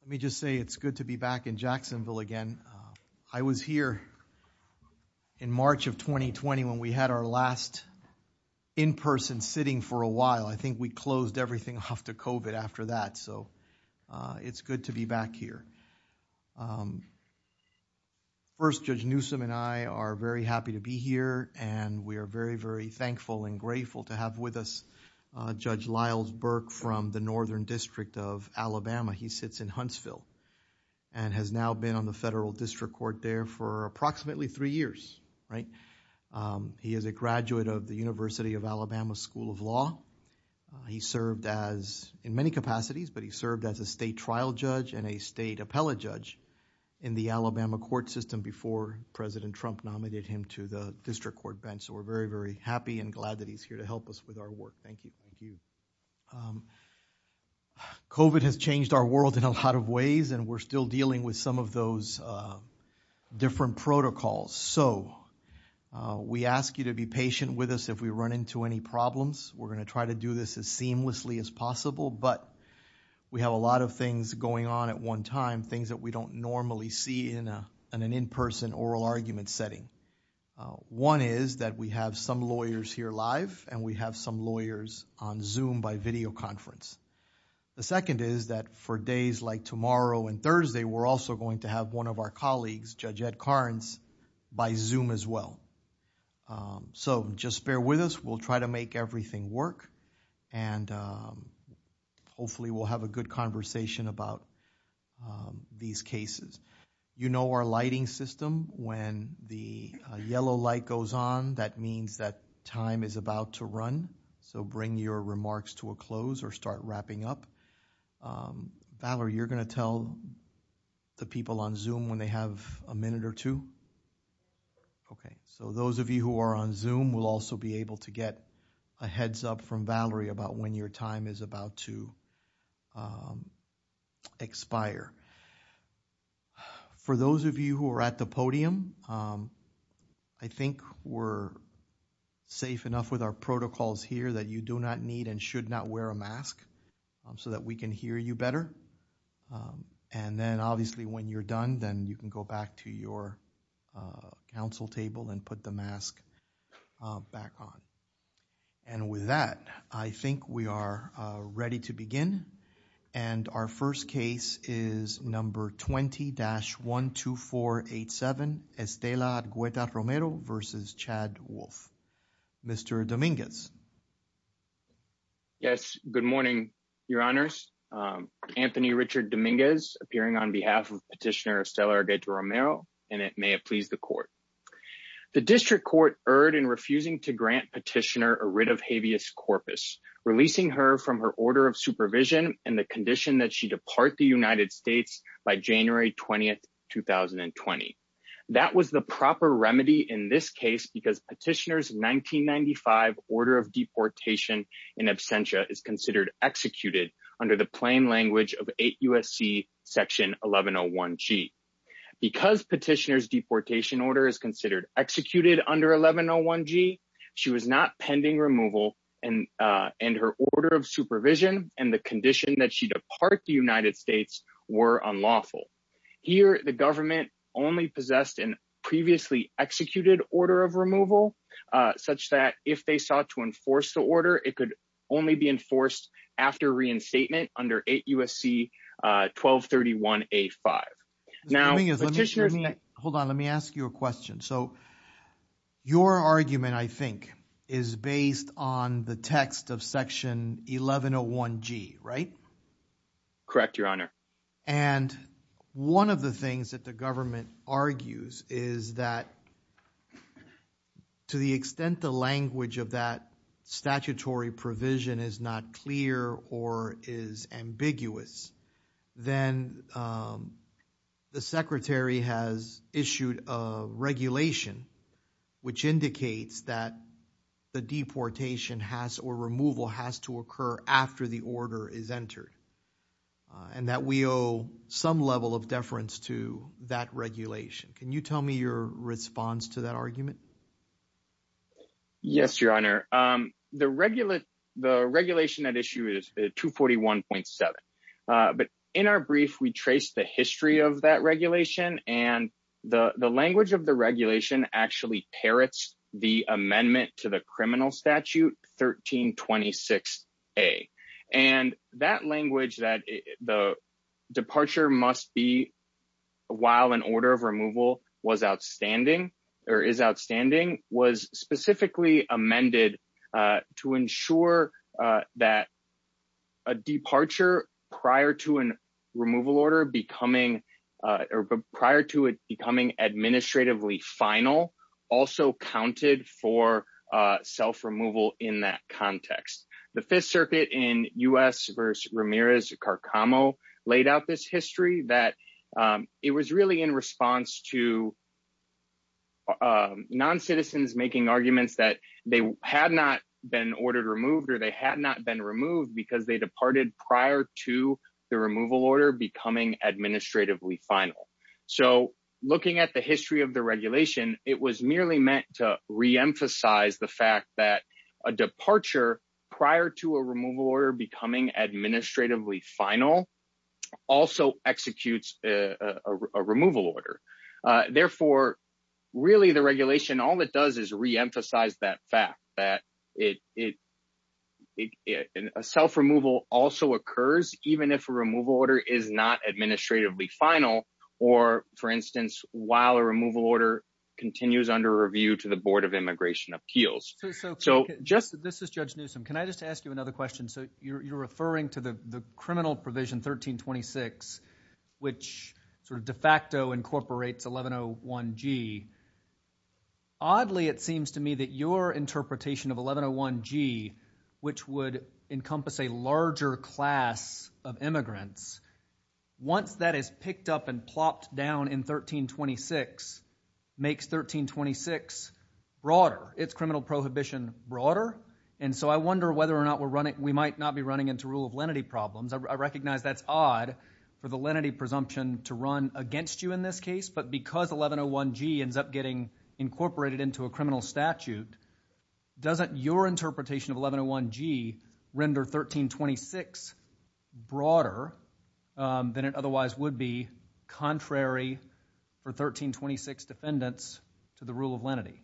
Let me just say it's good to be back in Jacksonville again. I was here in March of 2020 when we had our last in-person sitting for a while. I think we closed everything off to COVID after that, so it's good to be back here. First, Judge Newsom and I are very happy to be here and we are very, very thankful and grateful to have with us Judge Lyles Burke from the Northern District of Alabama. He sits in Huntsville and has now been on the Federal District Court there for approximately three years, right? He is a graduate of the University of Alabama School of Law. He served as, in many capacities, but he served as a state trial judge and a state appellate judge in the Alabama court system before President Trump nominated him to the District Court bench, so we're very, very happy and glad that he's here to help us with our work. Thank you. COVID has changed our world in a lot of ways and we're still dealing with some of those different protocols, so we ask you to be patient with us if we run into any problems. We're going to try to do this as seamlessly as possible, but we have a lot of things going on at one time, things that we don't normally see in an in-person oral argument setting. One is that we have some lawyers here live and we have some lawyers on Zoom by video conference. The second is that for days like tomorrow and Thursday, we're also going to have one of our colleagues, Judge Ed Carnes, by Zoom as well, so just bear with us. We'll try to make everything work and hopefully we'll have a good conversation about these cases. You know our lighting system. When the yellow light goes on, that means that time is about to run, so bring your remarks to a close or start wrapping up. Valerie, you're going to tell the people on Zoom when they have a minute or two? Okay, so those of you who are on Zoom will also be able to get a heads up from Valerie about when your time is about to expire. For those of you who are at the podium, I think we're safe enough with our protocols here that you do not need and should not wear a mask so that we can hear you better. And then obviously when you're done, then you can go back to your council table and put the mask back on. And with that, I think we are ready to begin. And our first case is number 20-12487, Estela Agueda Romero versus Chad Wolf. Mr. Dominguez. Yes, good morning, your honors. Anthony Richard Dominguez appearing on behalf of Petitioner Estela Agueda Romero, and it may have pleased the court. The district court erred in refusing to grant Petitioner a writ of habeas corpus, releasing her from her order of supervision and the condition that she depart the United States by January 20, 2020. That was the proper remedy in this case because Petitioner's 1995 order of deportation in absentia is considered executed under the plain language of 8 U.S.C. Section 1101G. Because Petitioner's deportation order is considered executed under 1101G, she was not pending removal and her order of supervision and the condition that she depart the United States were unlawful. Here, the government only possessed an previously executed order of removal, such that if they sought to enforce the order, it could only be enforced after reinstatement under 8 U.S.C. 1231A5. Now, Petitioner. Hold on, let me ask you a question. So your argument, I think, is based on the text of Section 1101G, right? Correct, your honor. And one of the things that the government argues is that to the extent the language of that statutory provision is not clear or is ambiguous, then the secretary has issued a regulation which indicates that the deportation has or removal has to occur after the order is entered and that we owe some level of deference to that regulation. Can you tell me your response to that argument? Yes, your honor. The regulation at issue is 241.7. But in our brief, we traced the history of that regulation and the language of the regulation actually parrots the amendment to the criminal statute 1326A. And that language that the departure must be while an order of removal was outstanding or is outstanding was specifically amended to ensure that a departure prior to an removal order becoming or prior to it becoming administratively also counted for self-removal in that context. The Fifth Circuit in U.S. versus Ramirez-Carcamo laid out this history that it was really in response to non-citizens making arguments that they had not been ordered removed or they had not been removed because they departed prior to the removal order becoming administratively final. So looking at the history of the regulation, it was merely meant to reemphasize the fact that a departure prior to a removal order becoming administratively final also executes a removal order. Therefore, really the regulation, all it does is reemphasize that fact that a self-removal also occurs even if a removal order is not administratively final or, for instance, while a removal order continues under review to the Board of Immigration Appeals. So just this is Judge Newsom. Can I just ask you another question? So you're referring to the criminal provision 1326, which sort of de facto incorporates 1101G. Oddly, it seems to me that your interpretation of 1101G, which would encompass a larger class of immigrants, once that is picked up and plopped down in 1326, makes 1326 broader. It's criminal prohibition broader. And so I wonder whether or not we're running, we might not be running into rule of lenity problems. I recognize that's odd for the lenity presumption to run against you in this case, but because 1101G ends up getting incorporated into a criminal statute, doesn't your interpretation of 1101G render 1326 broader than it otherwise would be, contrary for 1326 defendants to the rule of lenity?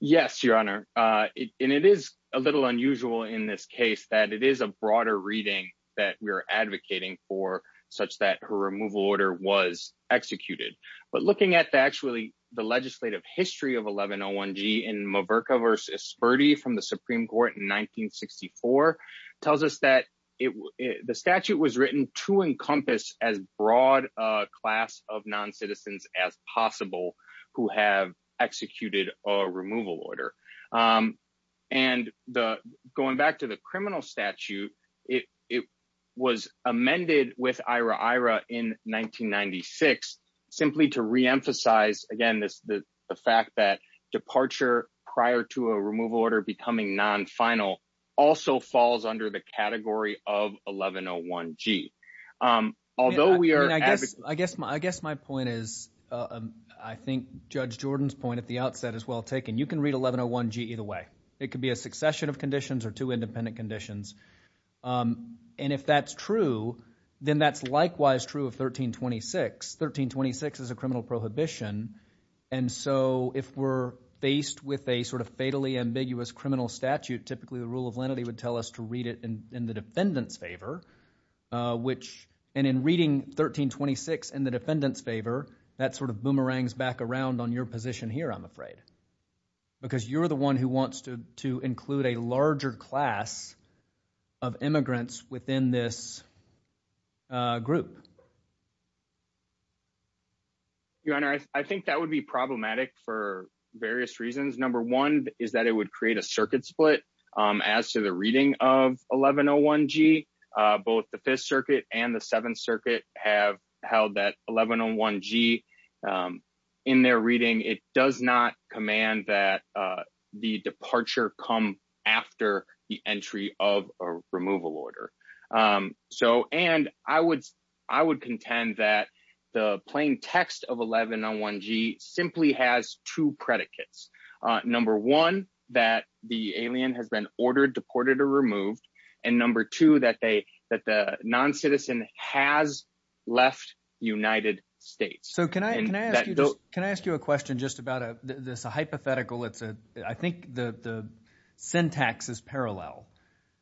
Yes, Your Honor. And it is a little unusual in this case that it is a broader reading that we're advocating for such that her removal order was executed. But looking at actually the legislative history of 1101G in Maverka versus Spurdy from the Supreme Court in 1964, tells us that the statute was written to encompass as broad a class of non-citizens as possible who have executed a removal order. And going back to the criminal statute, it was amended with IRA in 1996, simply to reemphasize, again, the fact that departure prior to a removal order becoming non-final also falls under the category of 1101G. Although we are... I guess my point is, I think Judge Jordan's point at the outset is well taken. You can read 1101G either way. It could be a succession of conditions or two independent conditions. And if that's true, then that's likewise true of 1326. 1326 is a criminal prohibition. And so if we're faced with a sort of fatally ambiguous criminal statute, typically the rule of lenity would tell us to read it in the defendant's favor, which... And in reading 1326 in the defendant's favor, that sort of boomerangs back around on your position here, I'm afraid. Because you're the one who wants to include a larger class of immigrants within this group. Your Honor, I think that would be problematic for various reasons. Number one is that it would create a circuit split as to the reading of 1101G. Both the Fifth Circuit and the Seventh Circuit have held that 1101G in their reading. It does not command that the departure come after the entry of a removal order. And I would contend that the plain text of 1101G simply has two predicates. Number one, that the alien has been ordered, deported, or removed. And number two, that the non-citizen has left United States. So can I ask you a question just about this hypothetical? I think the syntax is parallel.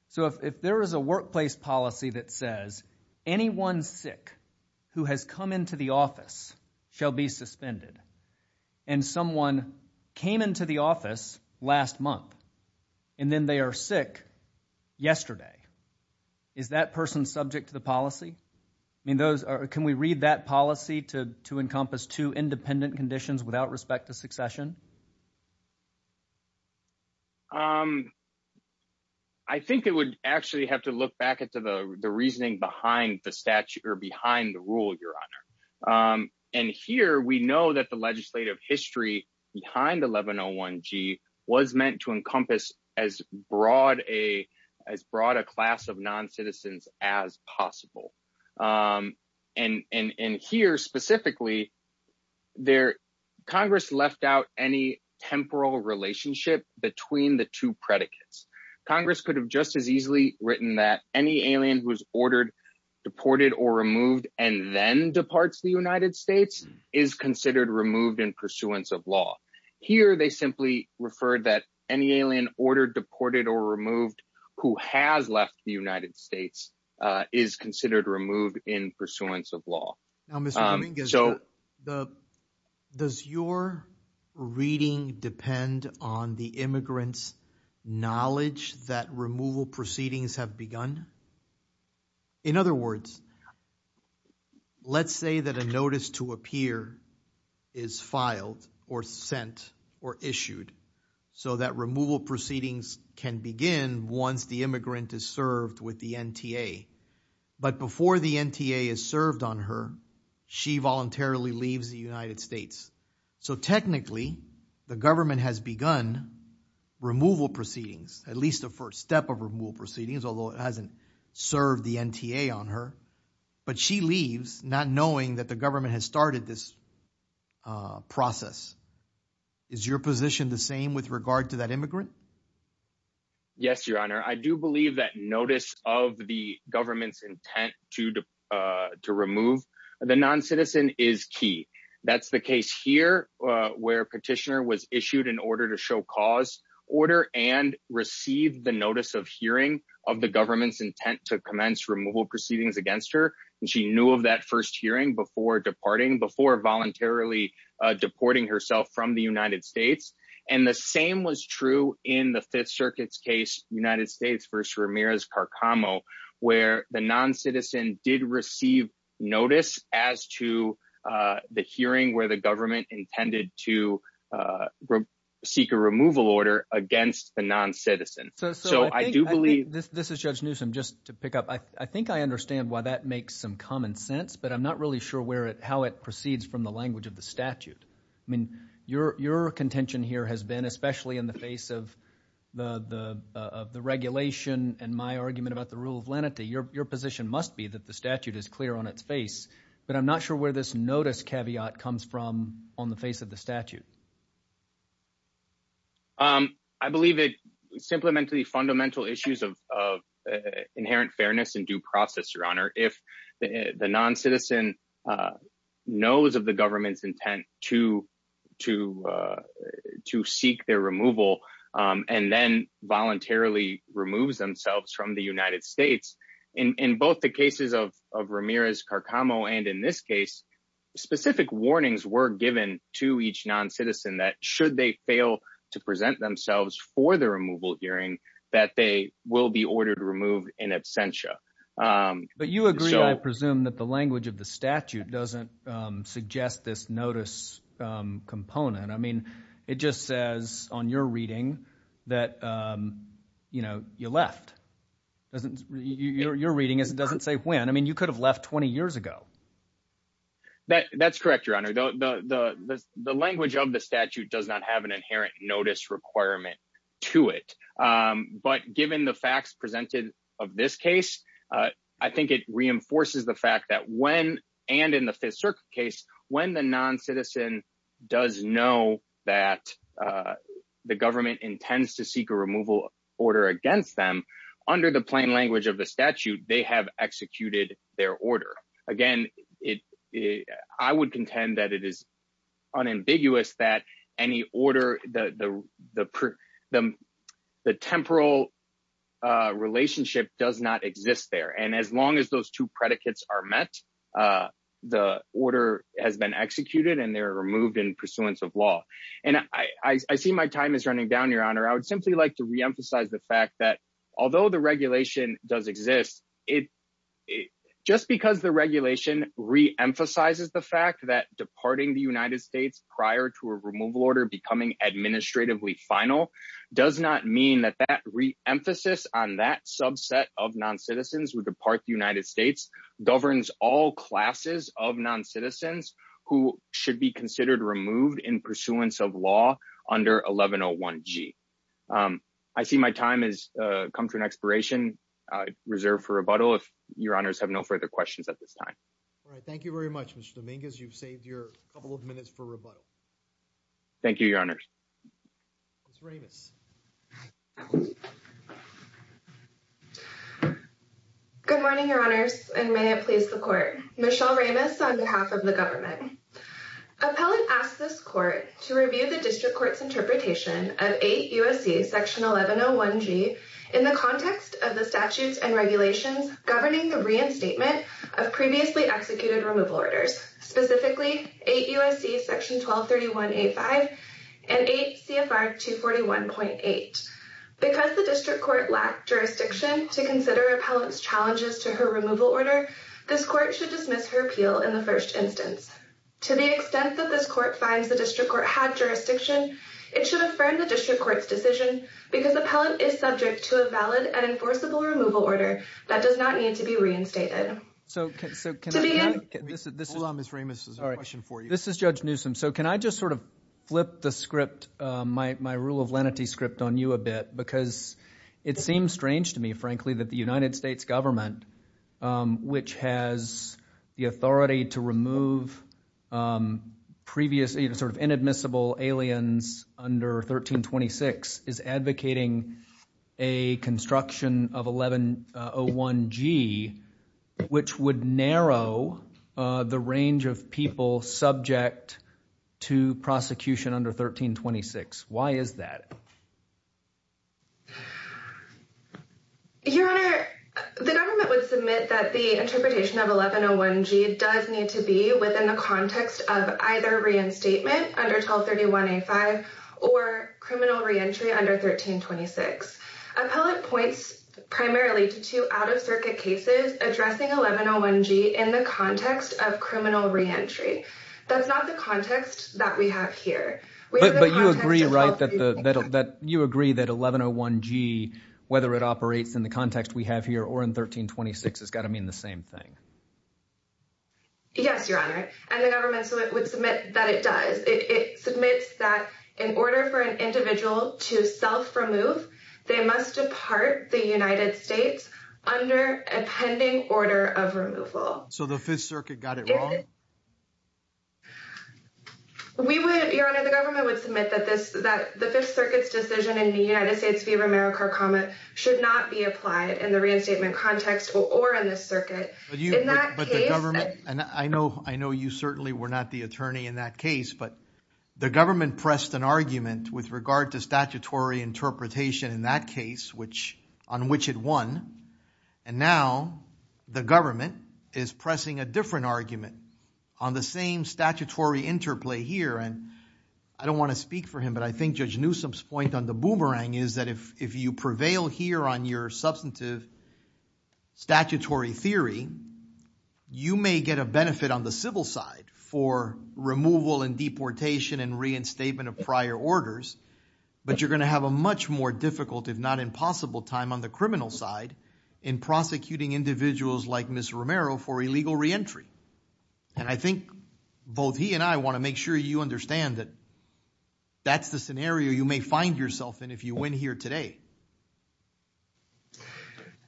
So if there is a workplace policy that says anyone sick who has come into the office shall be suspended, and someone came into the office last month, and then they are sick yesterday, is that person subject to the policy? I mean, can we read that policy to encompass two independent conditions without respect to succession? I think it would actually have to look back into the reasoning behind the rule, Your Honor. And here we know that the legislative history behind 1101G was meant to encompass as broad as broad a class of non-citizens as possible. And here specifically, Congress left out any temporal relationship between the two predicates. Congress could have just as easily written that any alien who's ordered, deported, or removed and then departs the United States is considered removed in pursuance of law. Here they simply referred that any alien ordered, deported, or removed who has left the United States is considered removed in pursuance of law. Now, Mr. Cummings, does your reading depend on the immigrant's knowledge that removal proceedings have begun? In other words, let's say that a notice to appear is filed or sent or issued so that removal proceedings can begin once the immigrant is served with the NTA. But before the NTA is served on her, she voluntarily leaves the United States. So technically, the government has begun removal proceedings, at least the first step of removal proceedings, although it hasn't served the NTA on her. But she leaves not knowing that the process. Is your position the same with regard to that immigrant? Yes, your honor. I do believe that notice of the government's intent to remove the non-citizen is key. That's the case here where petitioner was issued an order to show cause order and received the notice of hearing of the government's intent to commence removal proceedings against her. She knew of that first hearing before departing, before voluntarily deporting herself from the United States. And the same was true in the Fifth Circuit's case, United States v. Ramirez-Carcamo, where the non-citizen did receive notice as to the hearing where the government intended to seek a removal order against the non-citizen. So I do believe... This is Judge Newsom. Just to pick up, I think I understand why that makes some common sense, but I'm not really sure where it, how it proceeds from the language of the statute. I mean, your contention here has been, especially in the face of the regulation and my argument about the rule of lenity, your position must be that the statute is clear on its face, but I'm not sure where this notice caveat comes from on the face of the statute. I believe it's simply meant to be fundamental issues of inherent fairness and due process, Your Honor. If the non-citizen knows of the government's intent to seek their removal and then voluntarily removes themselves from the United States, in both the cases of Ramirez-Carcamo and in this case, specific warnings were given to each non-citizen that should they fail to present themselves for the removal hearing, that they will be ordered to remove in absentia. But you agree, I presume, that the language of the statute doesn't suggest this notice component. I mean, it just says on your reading that, you know, you left. Doesn't, your reading doesn't say when. I mean, you could have left 20 years ago. That's correct, Your Honor. The language of the statute does not have an inherent notice requirement to it. But given the facts presented of this case, I think it reinforces the fact that when, and in the Fifth Circuit case, when the non-citizen does know that the government intends to seek a removal order against them, under the plain language of the statute, they have executed their order. Again, I would contend that it is unambiguous that any order, the temporal relationship does not exist there. And as long as those two predicates are met, the order has been executed and they're removed in pursuance of law. And I see my time is running down, Your Honor. I would simply like to re-emphasize the fact that although the regulation does exist, just because the regulation re-emphasizes the fact that departing the United States prior to a removal order becoming administratively final does not mean that that re-emphasis on that subset of non-citizens who depart the United States governs all classes of non-citizens who should be considered removed in pursuance of law under 1101G. I see my time has come to an expiration. I reserve for rebuttal if Your Honors have no further questions at this time. All right. Thank you very much, Mr. Dominguez. You've saved your couple of minutes for rebuttal. Thank you, Your Honors. Ms. Ramos. Good morning, Your Honors, and may it please the Court. Michelle Ramos on behalf of the government. Appellant asks this Court to review the District Court's interpretation of 8 U.S.C. section 1101G in the context of the statutes and regulations governing the reinstatement of previously executed removal orders, specifically 8 U.S.C. section 1231.85 and 8 C.F.R. 241.4. Because the District Court lacked jurisdiction to consider Appellant's challenges to her removal order, this Court should dismiss her appeal in the first instance. To the extent that this Court finds the District Court had jurisdiction, it should affirm the District Court's decision because Appellant is subject to a valid and enforceable removal order that does not need to be reinstated. Hold on, Ms. Ramos. This is a question for you. This is Judge Newsom. So can I sort of flip the script, my rule of lenity script on you a bit? Because it seems strange to me, frankly, that the United States government, which has the authority to remove previously sort of inadmissible aliens under 1326, is advocating a construction of 1101G, which would narrow the range of people subject to prosecution under 1326. Why is that? Your Honor, the government would submit that the interpretation of 1101G does need to be within the context of either reinstatement under 1231.85 or criminal reentry under 1326. Appellant points primarily to out-of-circuit cases addressing 1101G in the context of criminal reentry. That's not the context that we have here. But you agree, right, that you agree that 1101G, whether it operates in the context we have here or in 1326, has got to mean the same thing? Yes, Your Honor. And the government would submit that it does. It submits that in order for an alien to be removed, they must depart the United States under a pending order of removal. So the Fifth Circuit got it wrong? Your Honor, the government would submit that the Fifth Circuit's decision in the United States v. Romero-Kharkama should not be applied in the reinstatement context or in the circuit. And I know you certainly were not the attorney in that case, but the government pressed an interpretation in that case on which it won. And now the government is pressing a different argument on the same statutory interplay here. And I don't want to speak for him, but I think Judge Newsom's point on the boomerang is that if you prevail here on your substantive statutory theory, you may get a benefit on the civil side for removal and deportation and reinstatement of prior orders. But you're going to have a much more difficult, if not impossible, time on the criminal side in prosecuting individuals like Ms. Romero for illegal reentry. And I think both he and I want to make sure you understand that that's the scenario you may find yourself in if you win here today.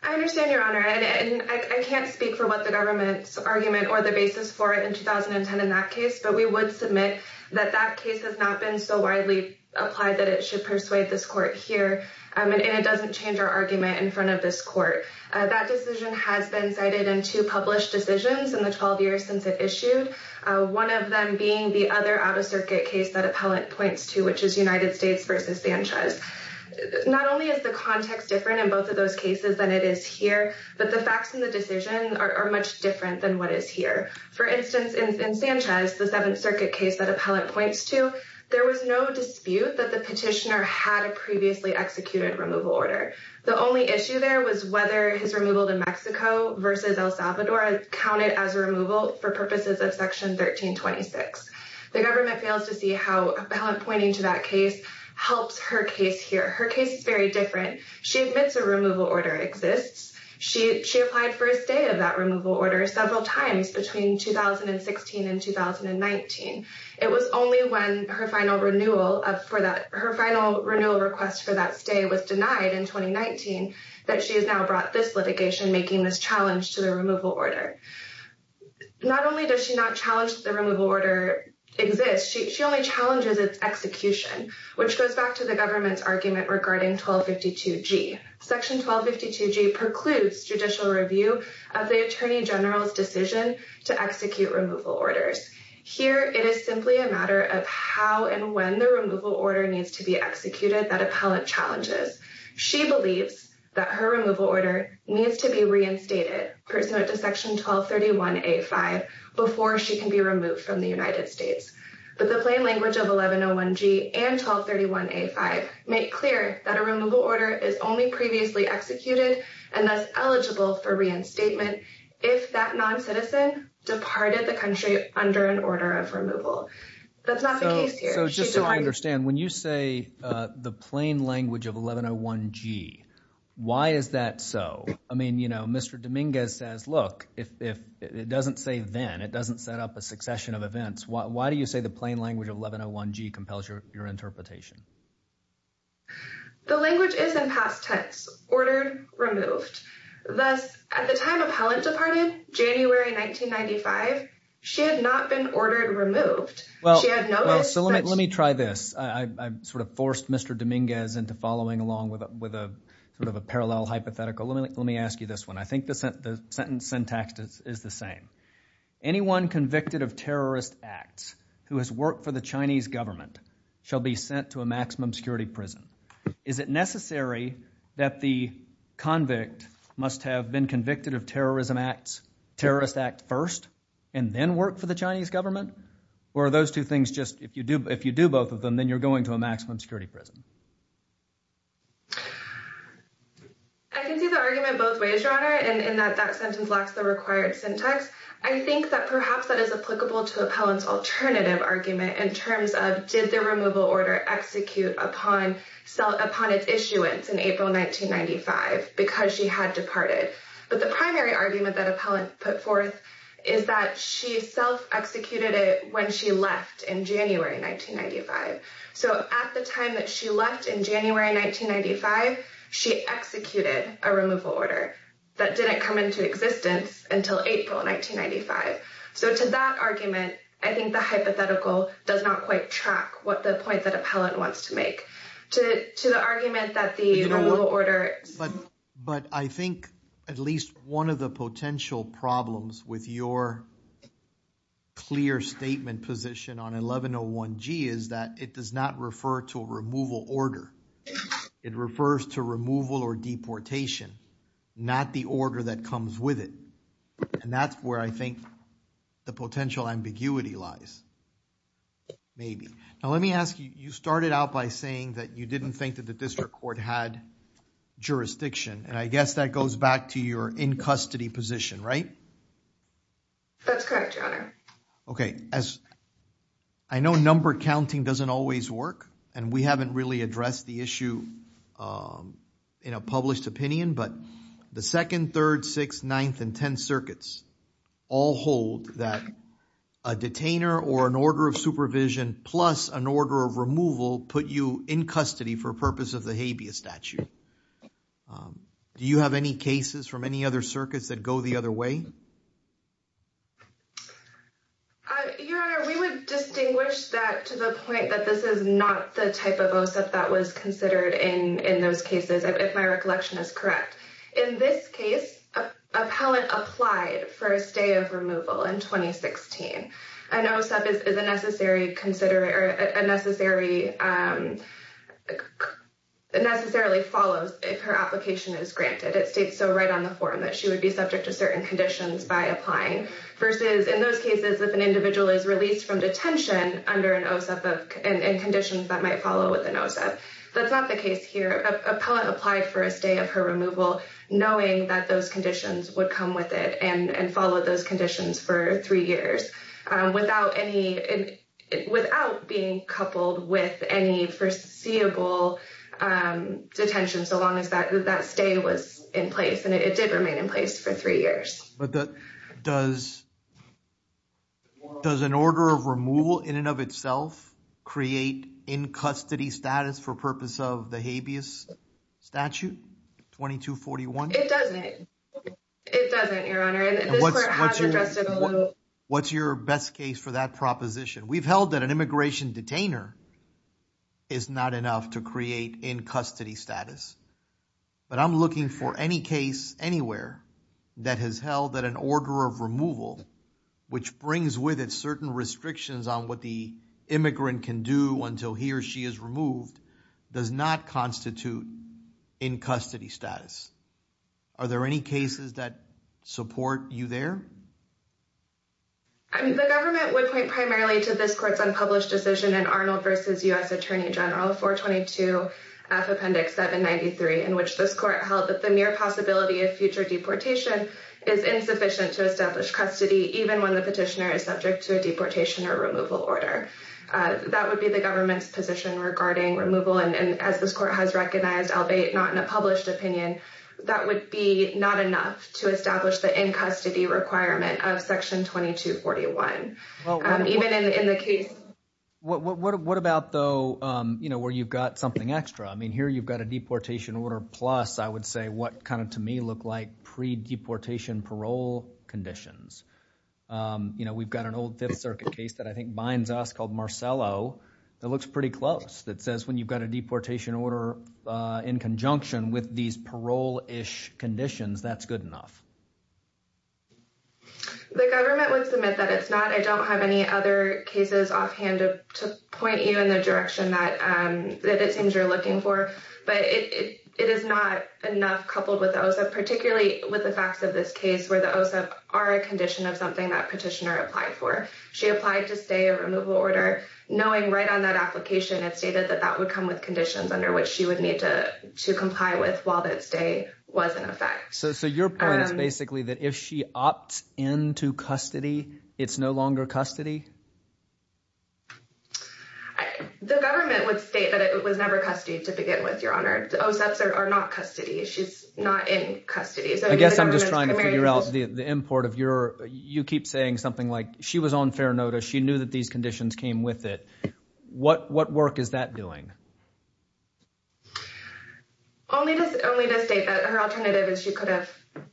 I understand, Your Honor. And I can't speak for what the government's argument or the basis for in that case, but we would submit that that case has not been so widely applied that it should persuade this court here. And it doesn't change our argument in front of this court. That decision has been cited in two published decisions in the 12 years since it issued, one of them being the other out-of-circuit case that appellant points to, which is United States v. Sanchez. Not only is the context different in both of those cases than it is here, but the facts in the decision are much different than what is here. For instance, in Sanchez, the Seventh Circuit case that appellant points to, there was no dispute that the petitioner had a previously executed removal order. The only issue there was whether his removal to Mexico v. El Salvador counted as removal for purposes of Section 1326. The government fails to see how appellant pointing to that case helps her case here. Her case is very different. She admits a removal order exists. She applied for a stay of that removal order several times between 2016 and 2019. It was only when her final renewal request for that stay was denied in 2019 that she has now brought this litigation making this challenge to the removal order. Not only does she not challenge the removal order exists, she only challenges its execution, which goes back to the government's argument regarding 1252G. Section 1252G precludes judicial review of the Attorney General's decision to execute removal orders. Here, it is simply a matter of how and when the removal order needs to be executed that appellant challenges. She believes that her removal order needs to be reinstated pursuant to Section 1231A5 before she can be reinstated. Make clear that a removal order is only previously executed and thus eligible for reinstatement if that non-citizen departed the country under an order of removal. That's not the case here. So just so I understand, when you say the plain language of 1101G, why is that so? I mean, you know, Mr. Dominguez says, look, if it doesn't say then, it doesn't set up a interpretation. The language is in past tense, ordered, removed. Thus, at the time appellant departed, January 1995, she had not been ordered removed. Well, let me try this. I sort of forced Mr. Dominguez into following along with a sort of a parallel hypothetical. Let me ask you this one. I think the sentence syntax is the same. Anyone convicted of terrorist acts who has worked for Chinese government shall be sent to a maximum security prison. Is it necessary that the convict must have been convicted of terrorism acts, terrorist act first, and then work for the Chinese government? Or are those two things just, if you do both of them, then you're going to a maximum security prison? I can see the argument both ways, Your Honor, in that that sentence lacks the required syntax. I think that perhaps that is applicable to appellant's alternative argument in terms of did the removal order execute upon its issuance in April 1995 because she had departed. But the primary argument that appellant put forth is that she self-executed it when she left in January 1995. So at the time that she left in January 1995, she executed a removal order that didn't come into existence until April 1995. So to that argument, I think the hypothetical does not quite track what the point that appellant wants to make. To the argument that the removal order... But I think at least one of the potential problems with your clear statement position on 1101G is that it does not refer to a removal order. It refers to removal or deportation, not the order that comes with it. And that's where I think the potential ambiguity lies. Maybe. Now let me ask you, you started out by saying that you didn't think that the district court had jurisdiction, and I guess that goes back to your in custody position, right? That's correct, Your Honor. Okay, as I know number counting doesn't always work, and we haven't really addressed the issue in a published opinion, but the second, third, sixth, ninth, and tenth or an order of supervision plus an order of removal put you in custody for purpose of the habeas statute. Do you have any cases from any other circuits that go the other way? Your Honor, we would distinguish that to the point that this is not the type of OSIP that was considered in those cases, if my recollection is correct. In this case, appellant applied for a stay of removal in 2016. An OSIP is a necessary, necessarily follows if her application is granted. It states so right on the form that she would be subject to certain conditions by applying versus in those cases, if an individual is released from detention under an OSIP and conditions that might follow with an OSIP. That's not the case here. Appellant applied for a stay of her removal knowing that those conditions would come with it and follow those conditions for three years without being coupled with any foreseeable detention so long as that stay was in place, and it did remain in place for three years. Does an order of removal in and of itself create in custody status for purpose of the habeas statute 2241? It doesn't. It doesn't, Your Honor. What's your best case for that proposition? We've held that an immigration detainer is not enough to create in custody status, but I'm looking for any case anywhere that has held that an order of removal, which brings with it certain restrictions on what the immigrant can do until he or she is removed, does not constitute in custody status. Are there any cases that support you there? The government would point primarily to this court's unpublished decision in Arnold v. U.S. Attorney General 422F Appendix 793, in which this court held that the mere possibility of future deportation is insufficient to establish custody even when the petitioner is subject to a deportation or removal order. That would be the government's position regarding removal, and as this court has recognized, albeit not in a published opinion, that would be not enough to establish the in-custody requirement of Section 2241. What about, though, where you've got something extra? Here you've got a deportation order plus, I would say, what kind of to me look like pre-deportation parole conditions. We've got an old Fifth Circuit case that I think binds us called Marcello that looks pretty close, that says when you've got a deportation order in conjunction with these parole-ish conditions, that's good enough. The government would submit that it's not. I don't have any other cases offhand to point you in the direction that it seems you're looking for, but it is not enough coupled with the OSEP, particularly with the facts of this case where the OSEP are a condition of something that petitioner applied for. She applied to stay a removal order, knowing right on that application it stated that that would come with conditions under which she would need to comply with while that stay was in effect. So your point is basically that if she opts into custody, it's no longer custody? The government would state that it was never custody to begin with, Your Honor. The OSEPs are not custody. She's not in custody. I guess I'm just trying to figure out the import of your, you keep saying something like she was on fair notice. She knew that these conditions came with it. What work is that doing? Only to state that her alternative is she could have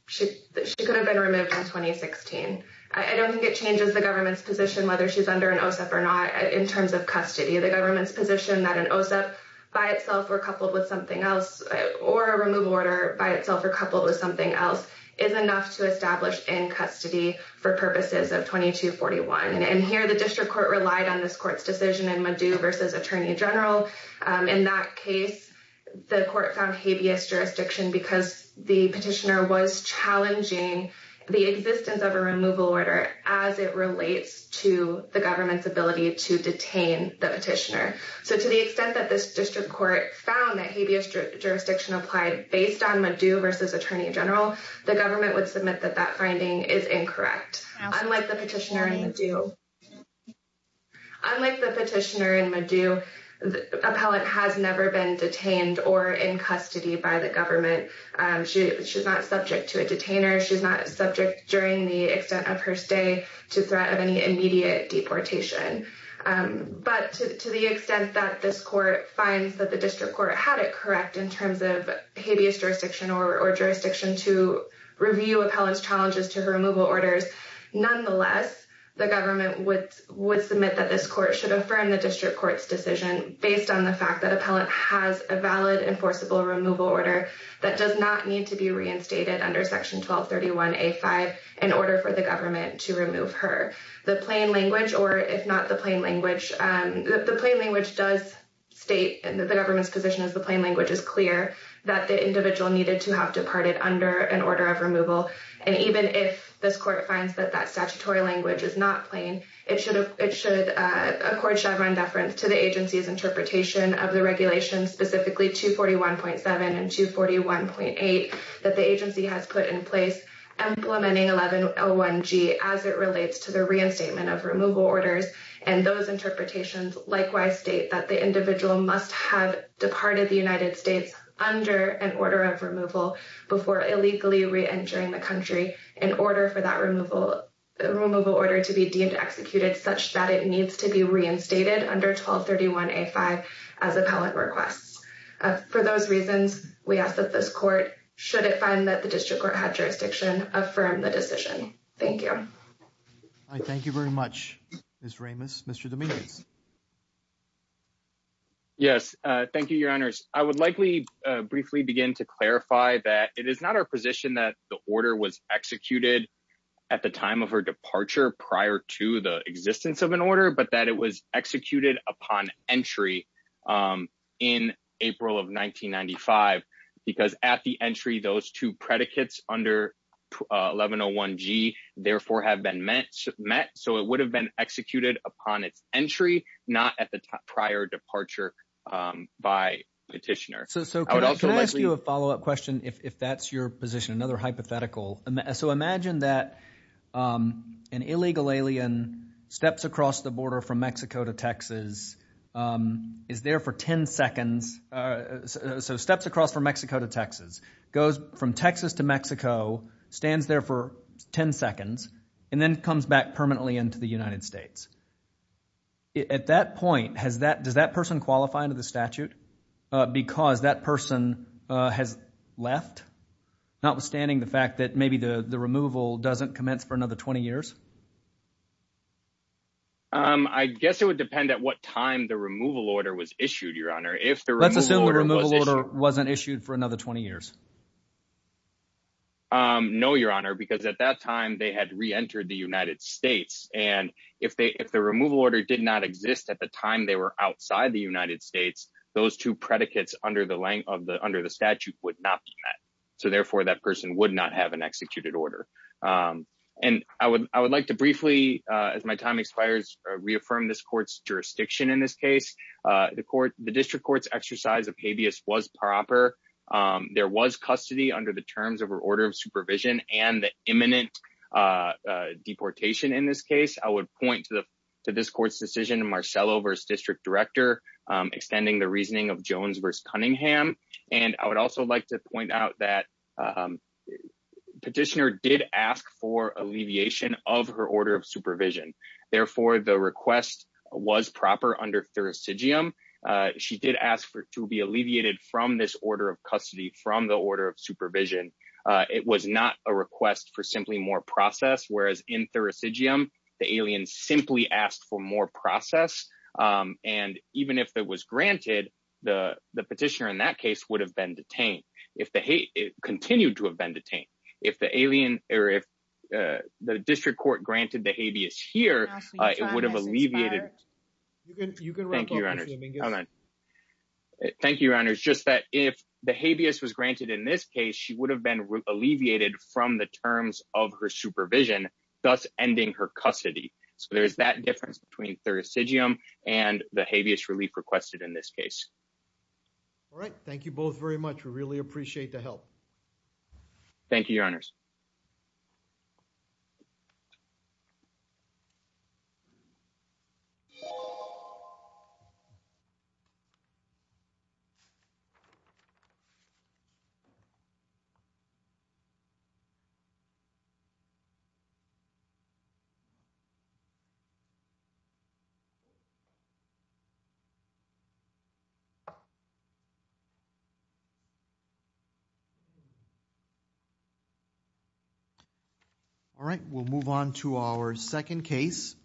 been removed in 2016. I don't think it changes the government's position whether she's under an OSEP or not in terms of custody. The government's position that an OSEP by itself or coupled with something else or a removal order by itself or coupled with something else is enough to establish in custody for purposes of 2241. And here the district court relied on this court's decision in Madu versus Attorney General. In that case, the court found habeas jurisdiction because the petitioner challenging the existence of a removal order as it relates to the government's ability to detain the petitioner. So to the extent that this district court found that habeas jurisdiction applied based on Madu versus Attorney General, the government would submit that that finding is incorrect. Unlike the petitioner in Madu, the appellate has never been detained or in custody by the government. She's not subject to a detainer. She's not subject during the extent of her stay to threat of any immediate deportation. But to the extent that this court finds that the district court had it correct in terms of habeas jurisdiction or jurisdiction to review appellant's challenges to her removal orders, nonetheless, the government would submit that this court should affirm the district court's decision based on the fact that appellant has a valid enforceable removal order that does not need to be reinstated under Section 1231A5 in order for the government to remove her. The plain language, or if not the plain language, the plain language does state that the government's position is the plain language is clear that the individual needed to have departed under an order of removal. And even if this court finds that that statutory language is not plain, it should accord Chevron deference to the agency's interpretation of the specifically 241.7 and 241.8 that the agency has put in place implementing 1101G as it relates to the reinstatement of removal orders. And those interpretations likewise state that the individual must have departed the United States under an order of removal before illegally reentering the country in order for that removal order to be deemed executed such that it needs to be reinstated under 1231A5 as appellant requests. For those reasons, we ask that this court, should it find that the district court had jurisdiction, affirm the decision. Thank you. All right, thank you very much, Ms. Ramos. Mr. Dominguez. Yes, thank you, your honors. I would likely briefly begin to clarify that it is not our position that the order was executed at the time of her departure prior to the existence of an upon entry in April of 1995, because at the entry, those two predicates under 1101G, therefore, have been met. So it would have been executed upon its entry, not at the prior departure by petitioner. So can I ask you a follow up question, if that's your position, another hypothetical. So imagine that an illegal alien steps across the border from Mexico to Texas, is there for 10 seconds. So steps across from Mexico to Texas, goes from Texas to Mexico, stands there for 10 seconds, and then comes back permanently into the United States. At that point, does that person qualify under the statute? Because that person has left, notwithstanding the fact that maybe the removal doesn't commence for another 20 years. I guess it would depend at what time the removal order was issued, your honor, if the removal order wasn't issued for another 20 years. No, your honor, because at that time, they had reentered the United States. And if they if the removal order did not exist at the time, they were outside the United States, those two predicates under the length of the under the statute would not be met. So therefore, that person would not have an executed order. And I would I would like to briefly, as my time expires, reaffirm this court's jurisdiction. In this case, the court, the district court's exercise of habeas was proper. There was custody under the terms of order of supervision and the imminent deportation. In this case, I would point to this court's decision Marcello versus district director, extending the reasoning of Jones versus asked for alleviation of her order of supervision. Therefore, the request was proper under Thurisidium. She did ask for to be alleviated from this order of custody from the order of supervision. It was not a request for simply more process, whereas in Thurisidium, the alien simply asked for more process. And even if that was granted, the petitioner in that case would have if the continued to have been detained. If the alien or if the district court granted the habeas here, it would have alleviated. You can thank you. Thank you, Your Honor. It's just that if the habeas was granted in this case, she would have been alleviated from the terms of her supervision, thus ending her custody. So there's that difference between Thurisidium and the habeas relief requested in this case. All right. Thank you both very much. We really appreciate the help. All right. We'll move on to our second case, which